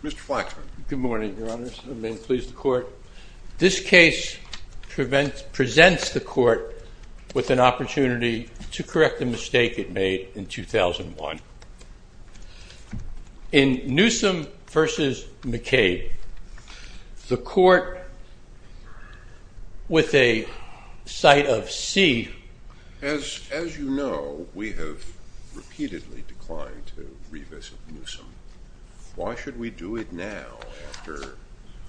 This case presents the court with an opportunity to correct a mistake it made in 2001. In Newsom v. McCabe, the court with a sight of C As you know, we have repeatedly declined to revisit Newsom. Why should we do it now after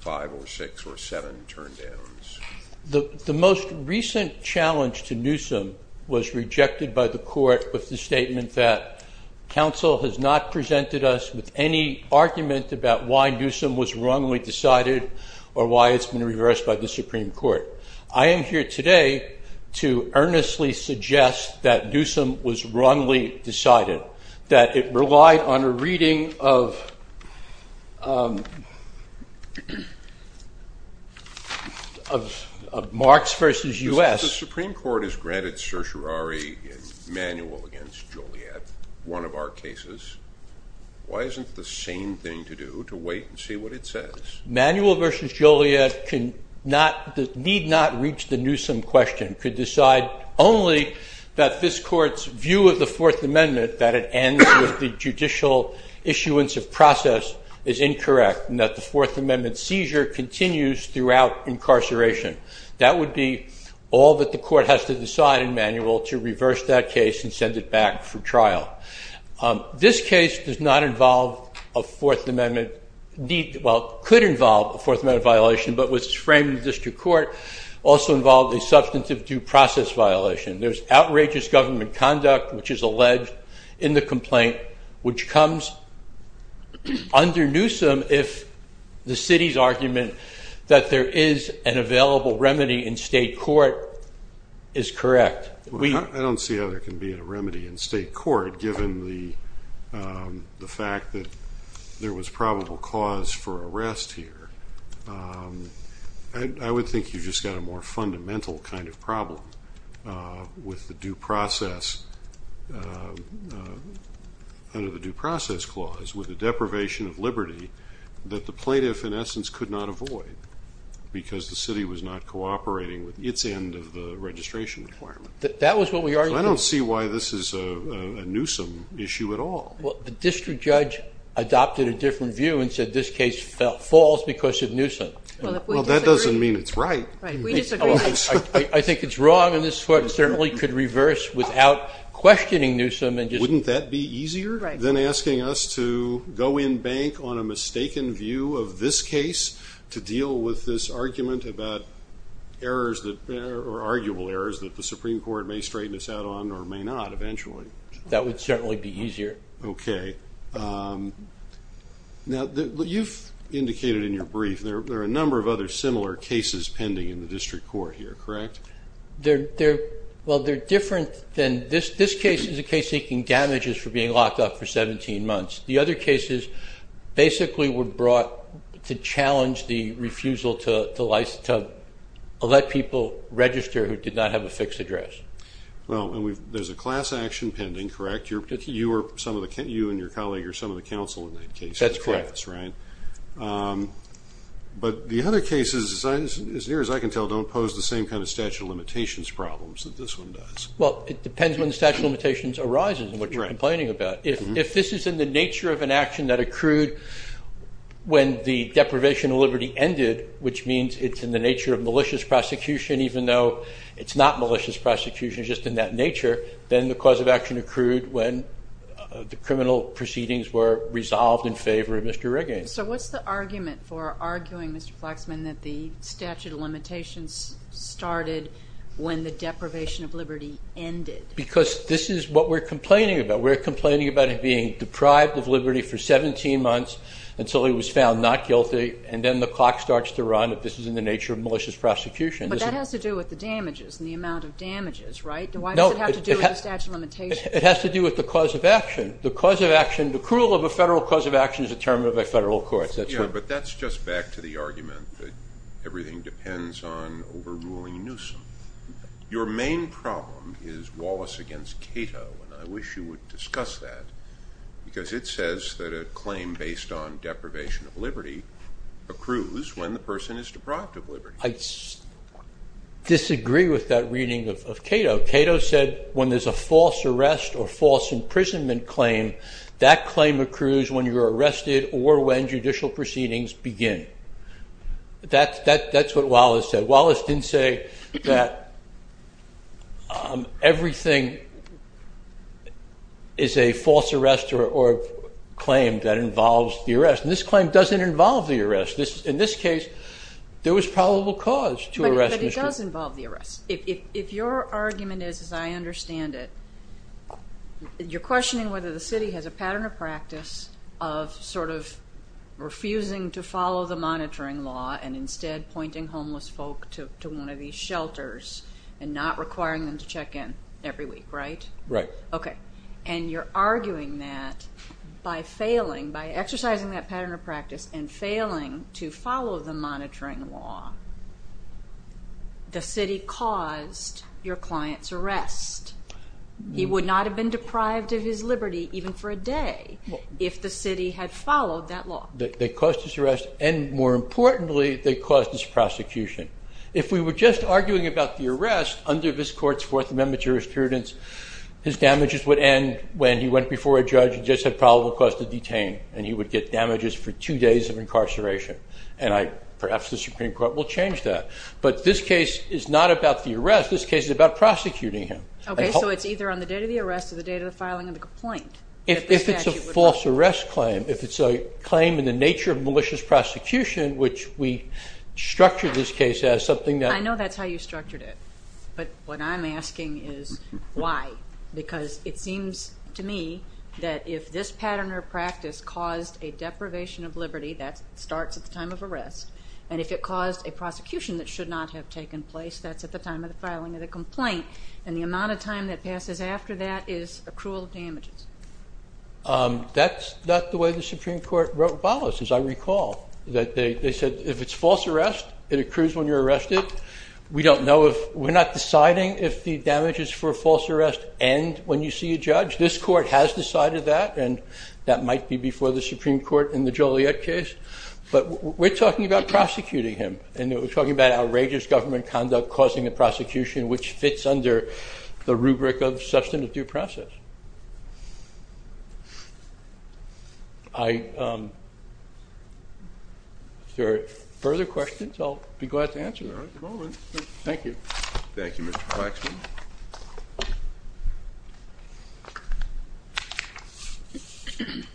5 or 6 or 7 turndowns? The most recent challenge to Newsom was rejected by the court with the statement that counsel has not presented us with any argument about why Newsom was wrongly decided or why it's been reversed by the Supreme Court. I am here today to earnestly suggest that Newsom was wrongly decided, that it relied on a reading of Marx v. U.S. The Supreme Court has granted certiorari manual against Joliet, one of our cases. Why isn't the same thing to do, to wait and see what it says? Manual v. Joliet need not reach the Newsom question. It could decide only that this court's view of the Fourth Amendment, that it ends with the judicial issuance of process, is incorrect and that the Fourth Amendment seizure continues throughout incarceration. That would be all that the court has to decide in manual to reverse that case and send it back for trial. This case does not involve a Fourth Amendment, well, could involve a Fourth Amendment violation, but was framed in district court, also involved a substantive due process violation. There's outrageous government conduct, which is alleged in the complaint, which comes under Newsom if the city's argument that there is an available remedy in state court is correct. I don't see how there can be a remedy in state court given the fact that there was probable cause for arrest here. I would think you just got a more fundamental kind of problem with the due process, under the due process clause with the deprivation of liberty that the plaintiff in essence could not avoid because the city was not cooperating with its end of the registration requirement. I don't see why this is a Newsom issue at all. Well, the district judge adopted a different view and said this case falls because of Newsom. Well, that doesn't mean it's right. I think it's wrong and this court certainly could reverse without questioning Newsom. Wouldn't that be easier than asking us to go in bank on a mistaken view of this case to deal with this argument about arguable errors that the Supreme Court may straighten us out on or may not eventually? That would certainly be easier. Okay. Now, you've indicated in your brief there are a number of other similar cases pending in the district court here, correct? Well, they're different than this. This case is a case seeking damages for being locked up for 17 months. The other cases basically were brought to challenge the refusal to let people register who did not have a fixed address. Well, there's a class action pending, correct? You and your colleague are some of the counsel in that case. That's correct. But the other cases, as near as I can tell, don't pose the same kind of statute of limitations problems that this one does. Well, it depends when the statute of limitations arises and what you're complaining about. If this is in the nature of an action that accrued when the deprivation of liberty ended, which means it's in the nature of malicious prosecution even though it's not malicious prosecution, it's just in that nature, then the cause of action accrued when the criminal proceedings were resolved in favor of Mr. Regan. So what's the argument for arguing, Mr. Flexman, that the statute of limitations started when the deprivation of liberty ended? Because this is what we're complaining about. We're complaining about him being deprived of liberty for 17 months until he was found not guilty, and then the clock starts to run that this is in the nature of malicious prosecution. But that has to do with the damages and the amount of damages, right? Why does it have to do with the statute of limitations? It has to do with the cause of action. The cruel of a federal cause of action is a term of a federal court. But that's just back to the argument that everything depends on overruling Newsom. Your main problem is Wallace against Cato, and I wish you would discuss that, because it says that a claim based on deprivation of liberty accrues when the person is deprived of liberty. I disagree with that reading of Cato. Cato said when there's a false arrest or false imprisonment claim, that claim accrues when you're arrested or when judicial proceedings begin. That's what Wallace said. Wallace didn't say that everything is a false arrest or claim that involves the arrest. And this claim doesn't involve the arrest. In this case, there was probable cause to arrest. But it does involve the arrest. If your argument is, as I understand it, you're questioning whether the city has a pattern of practice of sort of refusing to follow the monitoring law and instead pointing homeless folk to one of these shelters and not requiring them to check in every week, right? Right. Okay. And you're arguing that by failing, by exercising that pattern of practice and failing to follow the monitoring law, the city caused your client's arrest. He would not have been deprived of his liberty even for a day if the city had followed that law. They caused his arrest, and more importantly, they caused his prosecution. If we were just arguing about the arrest under this court's Fourth Amendment jurisprudence, his damages would end when he went before a judge and just had probable cause to detain, and he would get damages for two days of incarceration. And perhaps the Supreme Court will change that. But this case is not about the arrest. This case is about prosecuting him. Okay. So it's either on the day of the arrest or the day of the filing of the complaint. If it's a false arrest claim, if it's a claim in the nature of malicious prosecution, which we structure this case as something that. I know that's how you structured it, but what I'm asking is why? Because it seems to me that if this pattern or practice caused a deprivation of liberty, that starts at the time of arrest, and if it caused a prosecution that should not have taken place, that's at the time of the filing of the complaint, and the amount of time that passes after that is accrual of damages. That's not the way the Supreme Court wrote ballots, as I recall. They said if it's false arrest, it accrues when you're arrested. We don't know if. We're not deciding if the damages for false arrest end when you see a judge. This court has decided that, and that might be before the Supreme Court in the Joliet case. But we're talking about prosecuting him, and we're talking about outrageous government conduct causing the prosecution, which fits under the rubric of substantive due process. Are there further questions? I'll be glad to answer them. All right. Thank you. Thank you, Mr. Waxman. Good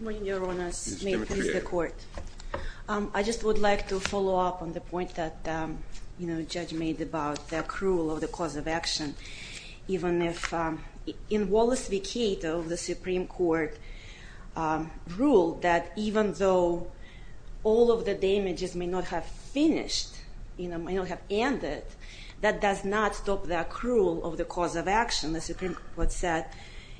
morning, Your Honor. Ms. Demetria. I just would like to follow up on the point that the judge made about the accrual of the cause of action. In Wallace v. Cato, the Supreme Court ruled that even though all of the damages may not have finished, may not have ended, that does not stop the accrual of the cause of action. The Supreme Court said,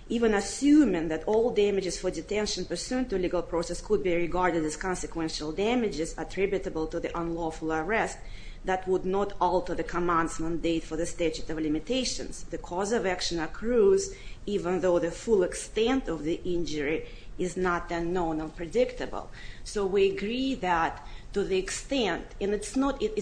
even assuming that all damages for detention pursuant to legal process could be regarded as consequential damages attributable to the unlawful arrest, that would not alter the command's mandate for the statute of limitations. The cause of action accrues even though the full extent of the injury is not unknown or predictable. So we agree that to the extent, and it's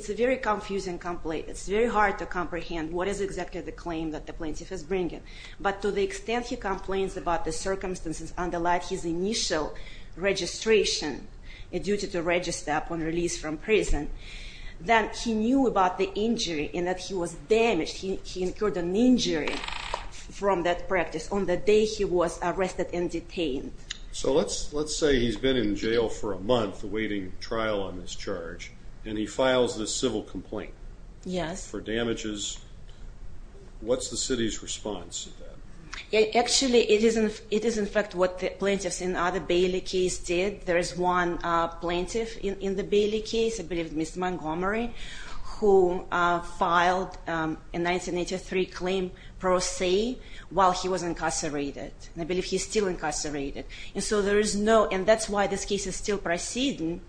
a very confusing complaint. It's very hard to comprehend what is exactly the claim that the plaintiff is bringing. But to the extent he complains about the circumstances underlying his initial registration, a duty to register upon release from prison, that he knew about the injury and that he was damaged. He incurred an injury from that practice on the day he was arrested and detained. So let's say he's been in jail for a month awaiting trial on this charge, and he files this civil complaint. Yes. For damages. What's the city's response to that? Actually, it is in fact what the plaintiffs in the other Bailey case did. There is one plaintiff in the Bailey case, I believe it was Ms. Montgomery, who filed a 1983 claim pro se while he was incarcerated. And I believe he's still incarcerated. And so there is no, and that's why this case is still proceeding,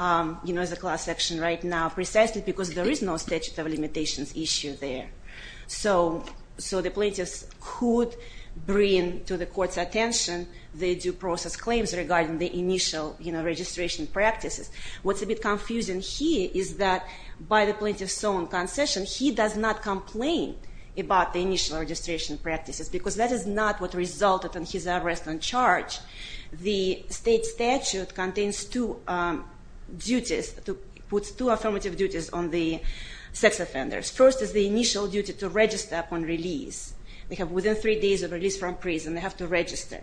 you know, as a class action right now, precisely because there is no statute of limitations issue there. So the plaintiffs could bring to the court's attention the due process claims regarding the initial registration practices. What's a bit confusing here is that by the plaintiff's own concession, he does not complain about the initial registration practices, because that is not what resulted in his arrest on charge. The state statute contains two duties, puts two affirmative duties on the sex offenders. First is the initial duty to register upon release. They have within three days of release from prison, they have to register.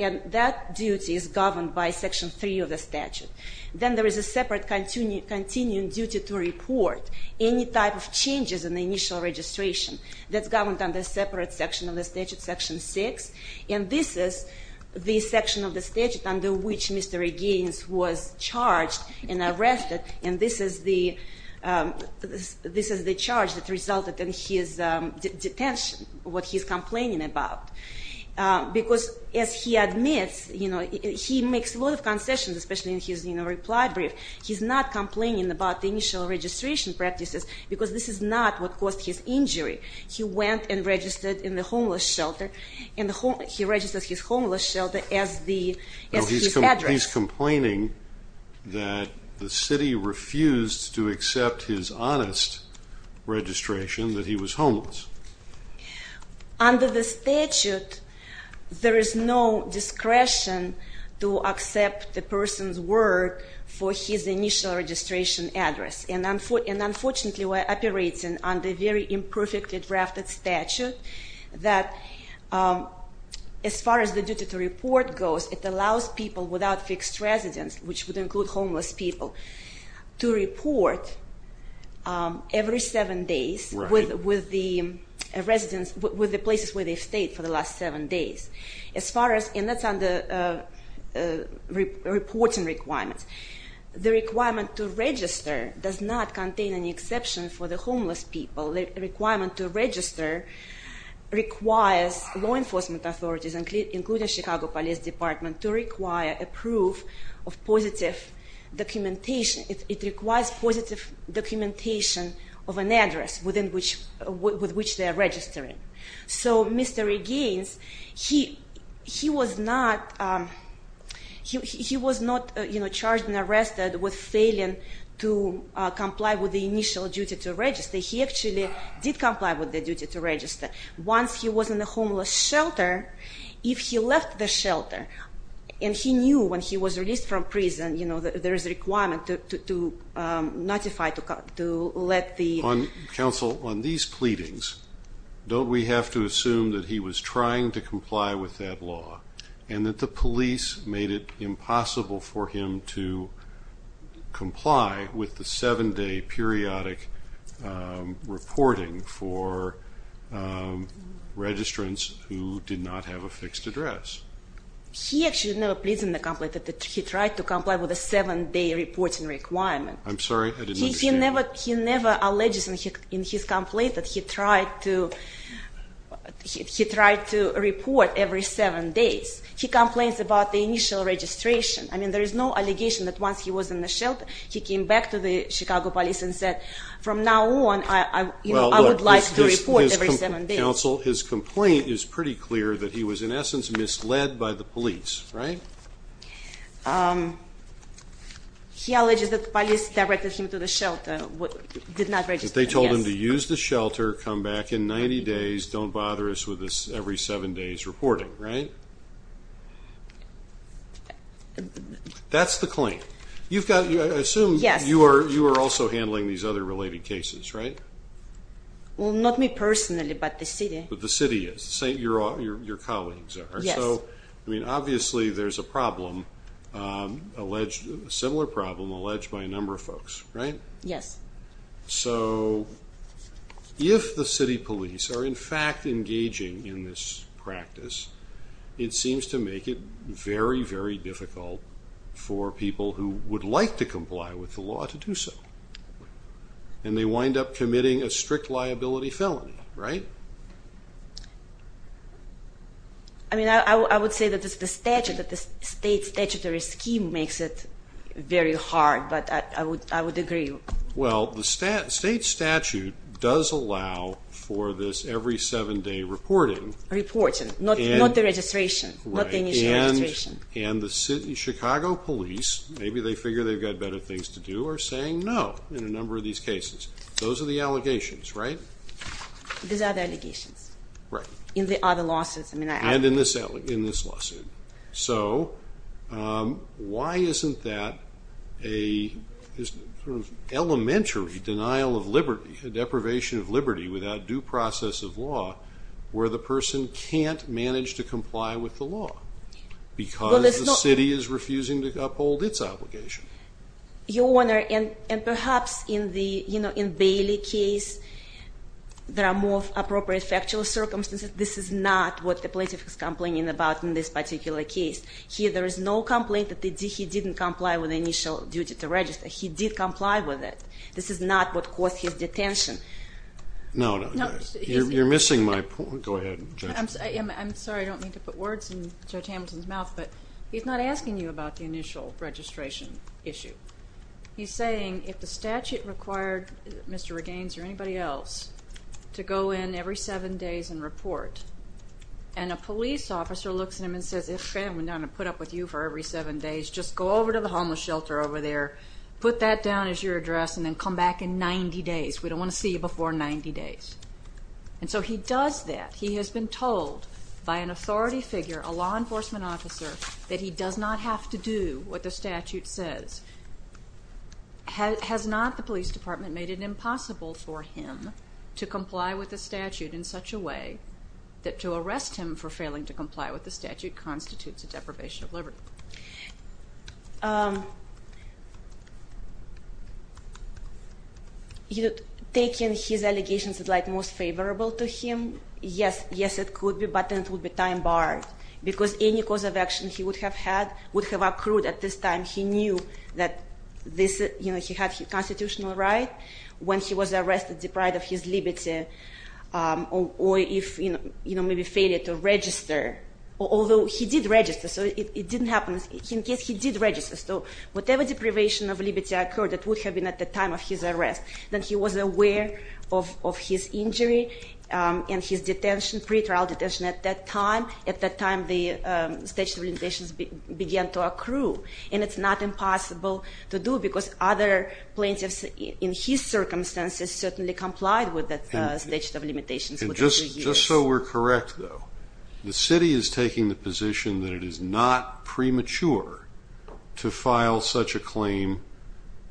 And that duty is governed by Section 3 of the statute. Then there is a separate continuing duty to report any type of changes in the initial registration. That's governed under a separate section of the statute, Section 6. And this is the section of the statute under which Mr. Regains was charged and arrested. And this is the charge that resulted in his detention, what he's complaining about. Because as he admits, you know, he makes a lot of concessions, especially in his reply brief. He's not complaining about the initial registration practices, because this is not what caused his injury. He went and registered in the homeless shelter, and he registered his homeless shelter as his address. He's complaining that the city refused to accept his honest registration, that he was homeless. Under the statute, there is no discretion to accept the person's word for his initial registration address. And unfortunately, we're operating under a very imperfectly drafted statute that as far as the duty to report goes, it allows people without fixed residence, which would include homeless people, to report every seven days with the residents, with the places where they've stayed for the last seven days. And that's under reporting requirements. The requirement to register does not contain any exception for the homeless people. The requirement to register requires law enforcement authorities, including Chicago Police Department, to require a proof of positive documentation. It requires positive documentation of an address with which they are registering. So Mr. Regains, he was not charged and arrested with failing to comply with the initial duty to register. He actually did comply with the duty to register. Once he was in the homeless shelter, if he left the shelter, and he knew when he was released from prison, you know, there is a requirement to notify, to let the... Counsel, on these pleadings, don't we have to assume that he was trying to comply with that law, and that the police made it impossible for him to comply with the seven-day periodic reporting for registrants who did not have a fixed address? He actually never pleads in the complaint that he tried to comply with a seven-day reporting requirement. I'm sorry. I didn't understand. He never alleges in his complaint that he tried to report every seven days. He complains about the initial registration. I mean, there is no allegation that once he was in the shelter, he came back to the Chicago police and said, from now on, I would like to report every seven days. Counsel, his complaint is pretty clear that he was, in essence, misled by the police, right? He alleges that the police directed him to the shelter, did not register. They told him to use the shelter, come back in 90 days, don't bother us with this every seven days reporting, right? That's the claim. I assume you are also handling these other related cases, right? Well, not me personally, but the city. But the city is. Your colleagues are. Yes. I mean, obviously, there's a problem, a similar problem, alleged by a number of folks, right? Yes. So if the city police are, in fact, engaging in this practice, it seems to make it very, very difficult for people who would like to comply with the law to do so. And they wind up committing a strict liability felony, right? I mean, I would say that the state statutory scheme makes it very hard, but I would agree. Well, the state statute does allow for this every seven day reporting. Reporting, not the registration, not the initial registration. And the Chicago police, maybe they figure they've got better things to do, are saying no in a number of these cases. Those are the allegations, right? These are the allegations. Right. In the other lawsuits. And in this lawsuit. So why isn't that an elementary denial of liberty, a deprivation of liberty without due process of law, where the person can't manage to comply with the law because the city is refusing to uphold its obligation? Your Honor, and perhaps in the Bailey case, there are more appropriate factual circumstances. This is not what the plaintiff is complaining about in this particular case. Here, there is no complaint that he didn't comply with the initial duty to register. He did comply with it. This is not what caused his detention. No, no. You're missing my point. Go ahead, Judge. I'm sorry. I don't mean to put words in Judge Hamilton's mouth, but he's not asking you about the initial registration issue. He's saying if the statute required Mr. Regains or anybody else to go in every seven days and report, and a police officer looks at him and says, okay, I'm going to put up with you for every seven days, just go over to the homeless shelter over there, put that down as your address, and then come back in 90 days. We don't want to see you before 90 days. And so he does that. He has been told by an authority figure, a law enforcement officer, that he does not have to do what the statute says. Has not the police department made it impossible for him to comply with the statute in such a way that to arrest him for failing to comply with the statute constitutes a deprivation of liberty? You know, taking his allegations as, like, most favorable to him, yes, yes, it could be, but then it would be time-barred because any cause of action he would have had would have accrued at this time. He knew that this, you know, he had constitutional right when he was arrested, deprived of his liberty or if, you know, maybe failure to register, although he did register, so it didn't happen. In case he did register, so whatever deprivation of liberty occurred, it would have been at the time of his arrest. Then he was aware of his injury and his detention, pre-trial detention at that time. At that time, the statute of limitations began to accrue, and it's not impossible to do because other plaintiffs in his circumstances certainly complied with the statute of limitations. And just so we're correct, though, the city is taking the position that it is not premature to file such a claim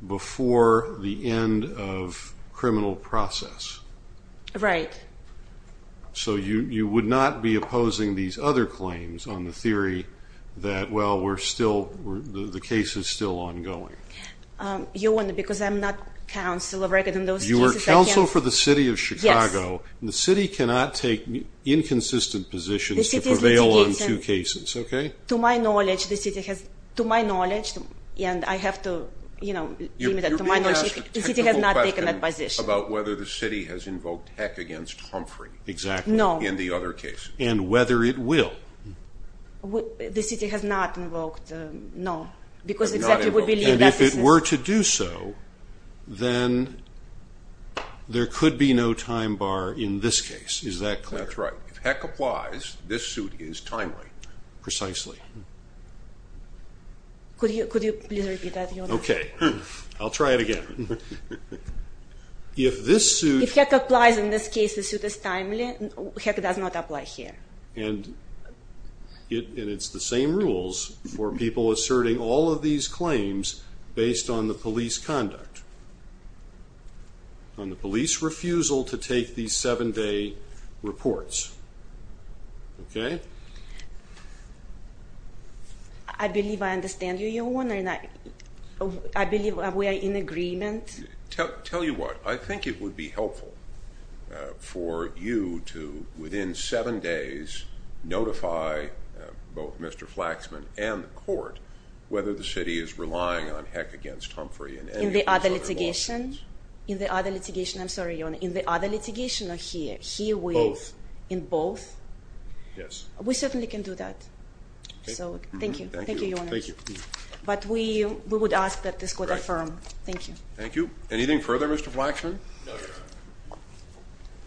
before the end of criminal process. Right. So you would not be opposing these other claims on the theory that, well, we're still, the case is still ongoing. You wonder because I'm not counsel of record in those cases. You are counsel for the city of Chicago. Yes. And the city cannot take inconsistent positions to prevail on two cases, okay? To my knowledge, the city has, to my knowledge, and I have to, you know, limit it to my knowledge, the city has not taken that position. You're being asked a technical question about whether the city has invoked Heck against Humphrey. Exactly. No. In the other cases. And whether it will. The city has not invoked, no, because exactly we believe that this is. So then there could be no time bar in this case. Is that clear? That's right. If Heck applies, this suit is timely. Precisely. Could you please repeat that? Okay. I'll try it again. If this suit. If Heck applies in this case, the suit is timely. Heck does not apply here. And it's the same rules for people asserting all of these claims based on the police conduct, on the police refusal to take these seven-day reports, okay? I believe I understand you, Your Honor, and I believe we are in agreement. Tell you what, I think it would be helpful for you to, within seven days, notify both Mr. Flaxman and the court whether the city is relying on Heck against Humphrey in any of these other lawsuits. In the other litigation? In the other litigation. I'm sorry, Your Honor, in the other litigation or here? Both. In both? Yes. We certainly can do that. Thank you. Thank you, Your Honor. Thank you. But we would ask that this court affirm. Thank you. Thank you. Anything further, Mr. Flaxman? No, Your Honor.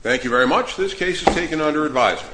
Thank you very much. This case is taken under advisement.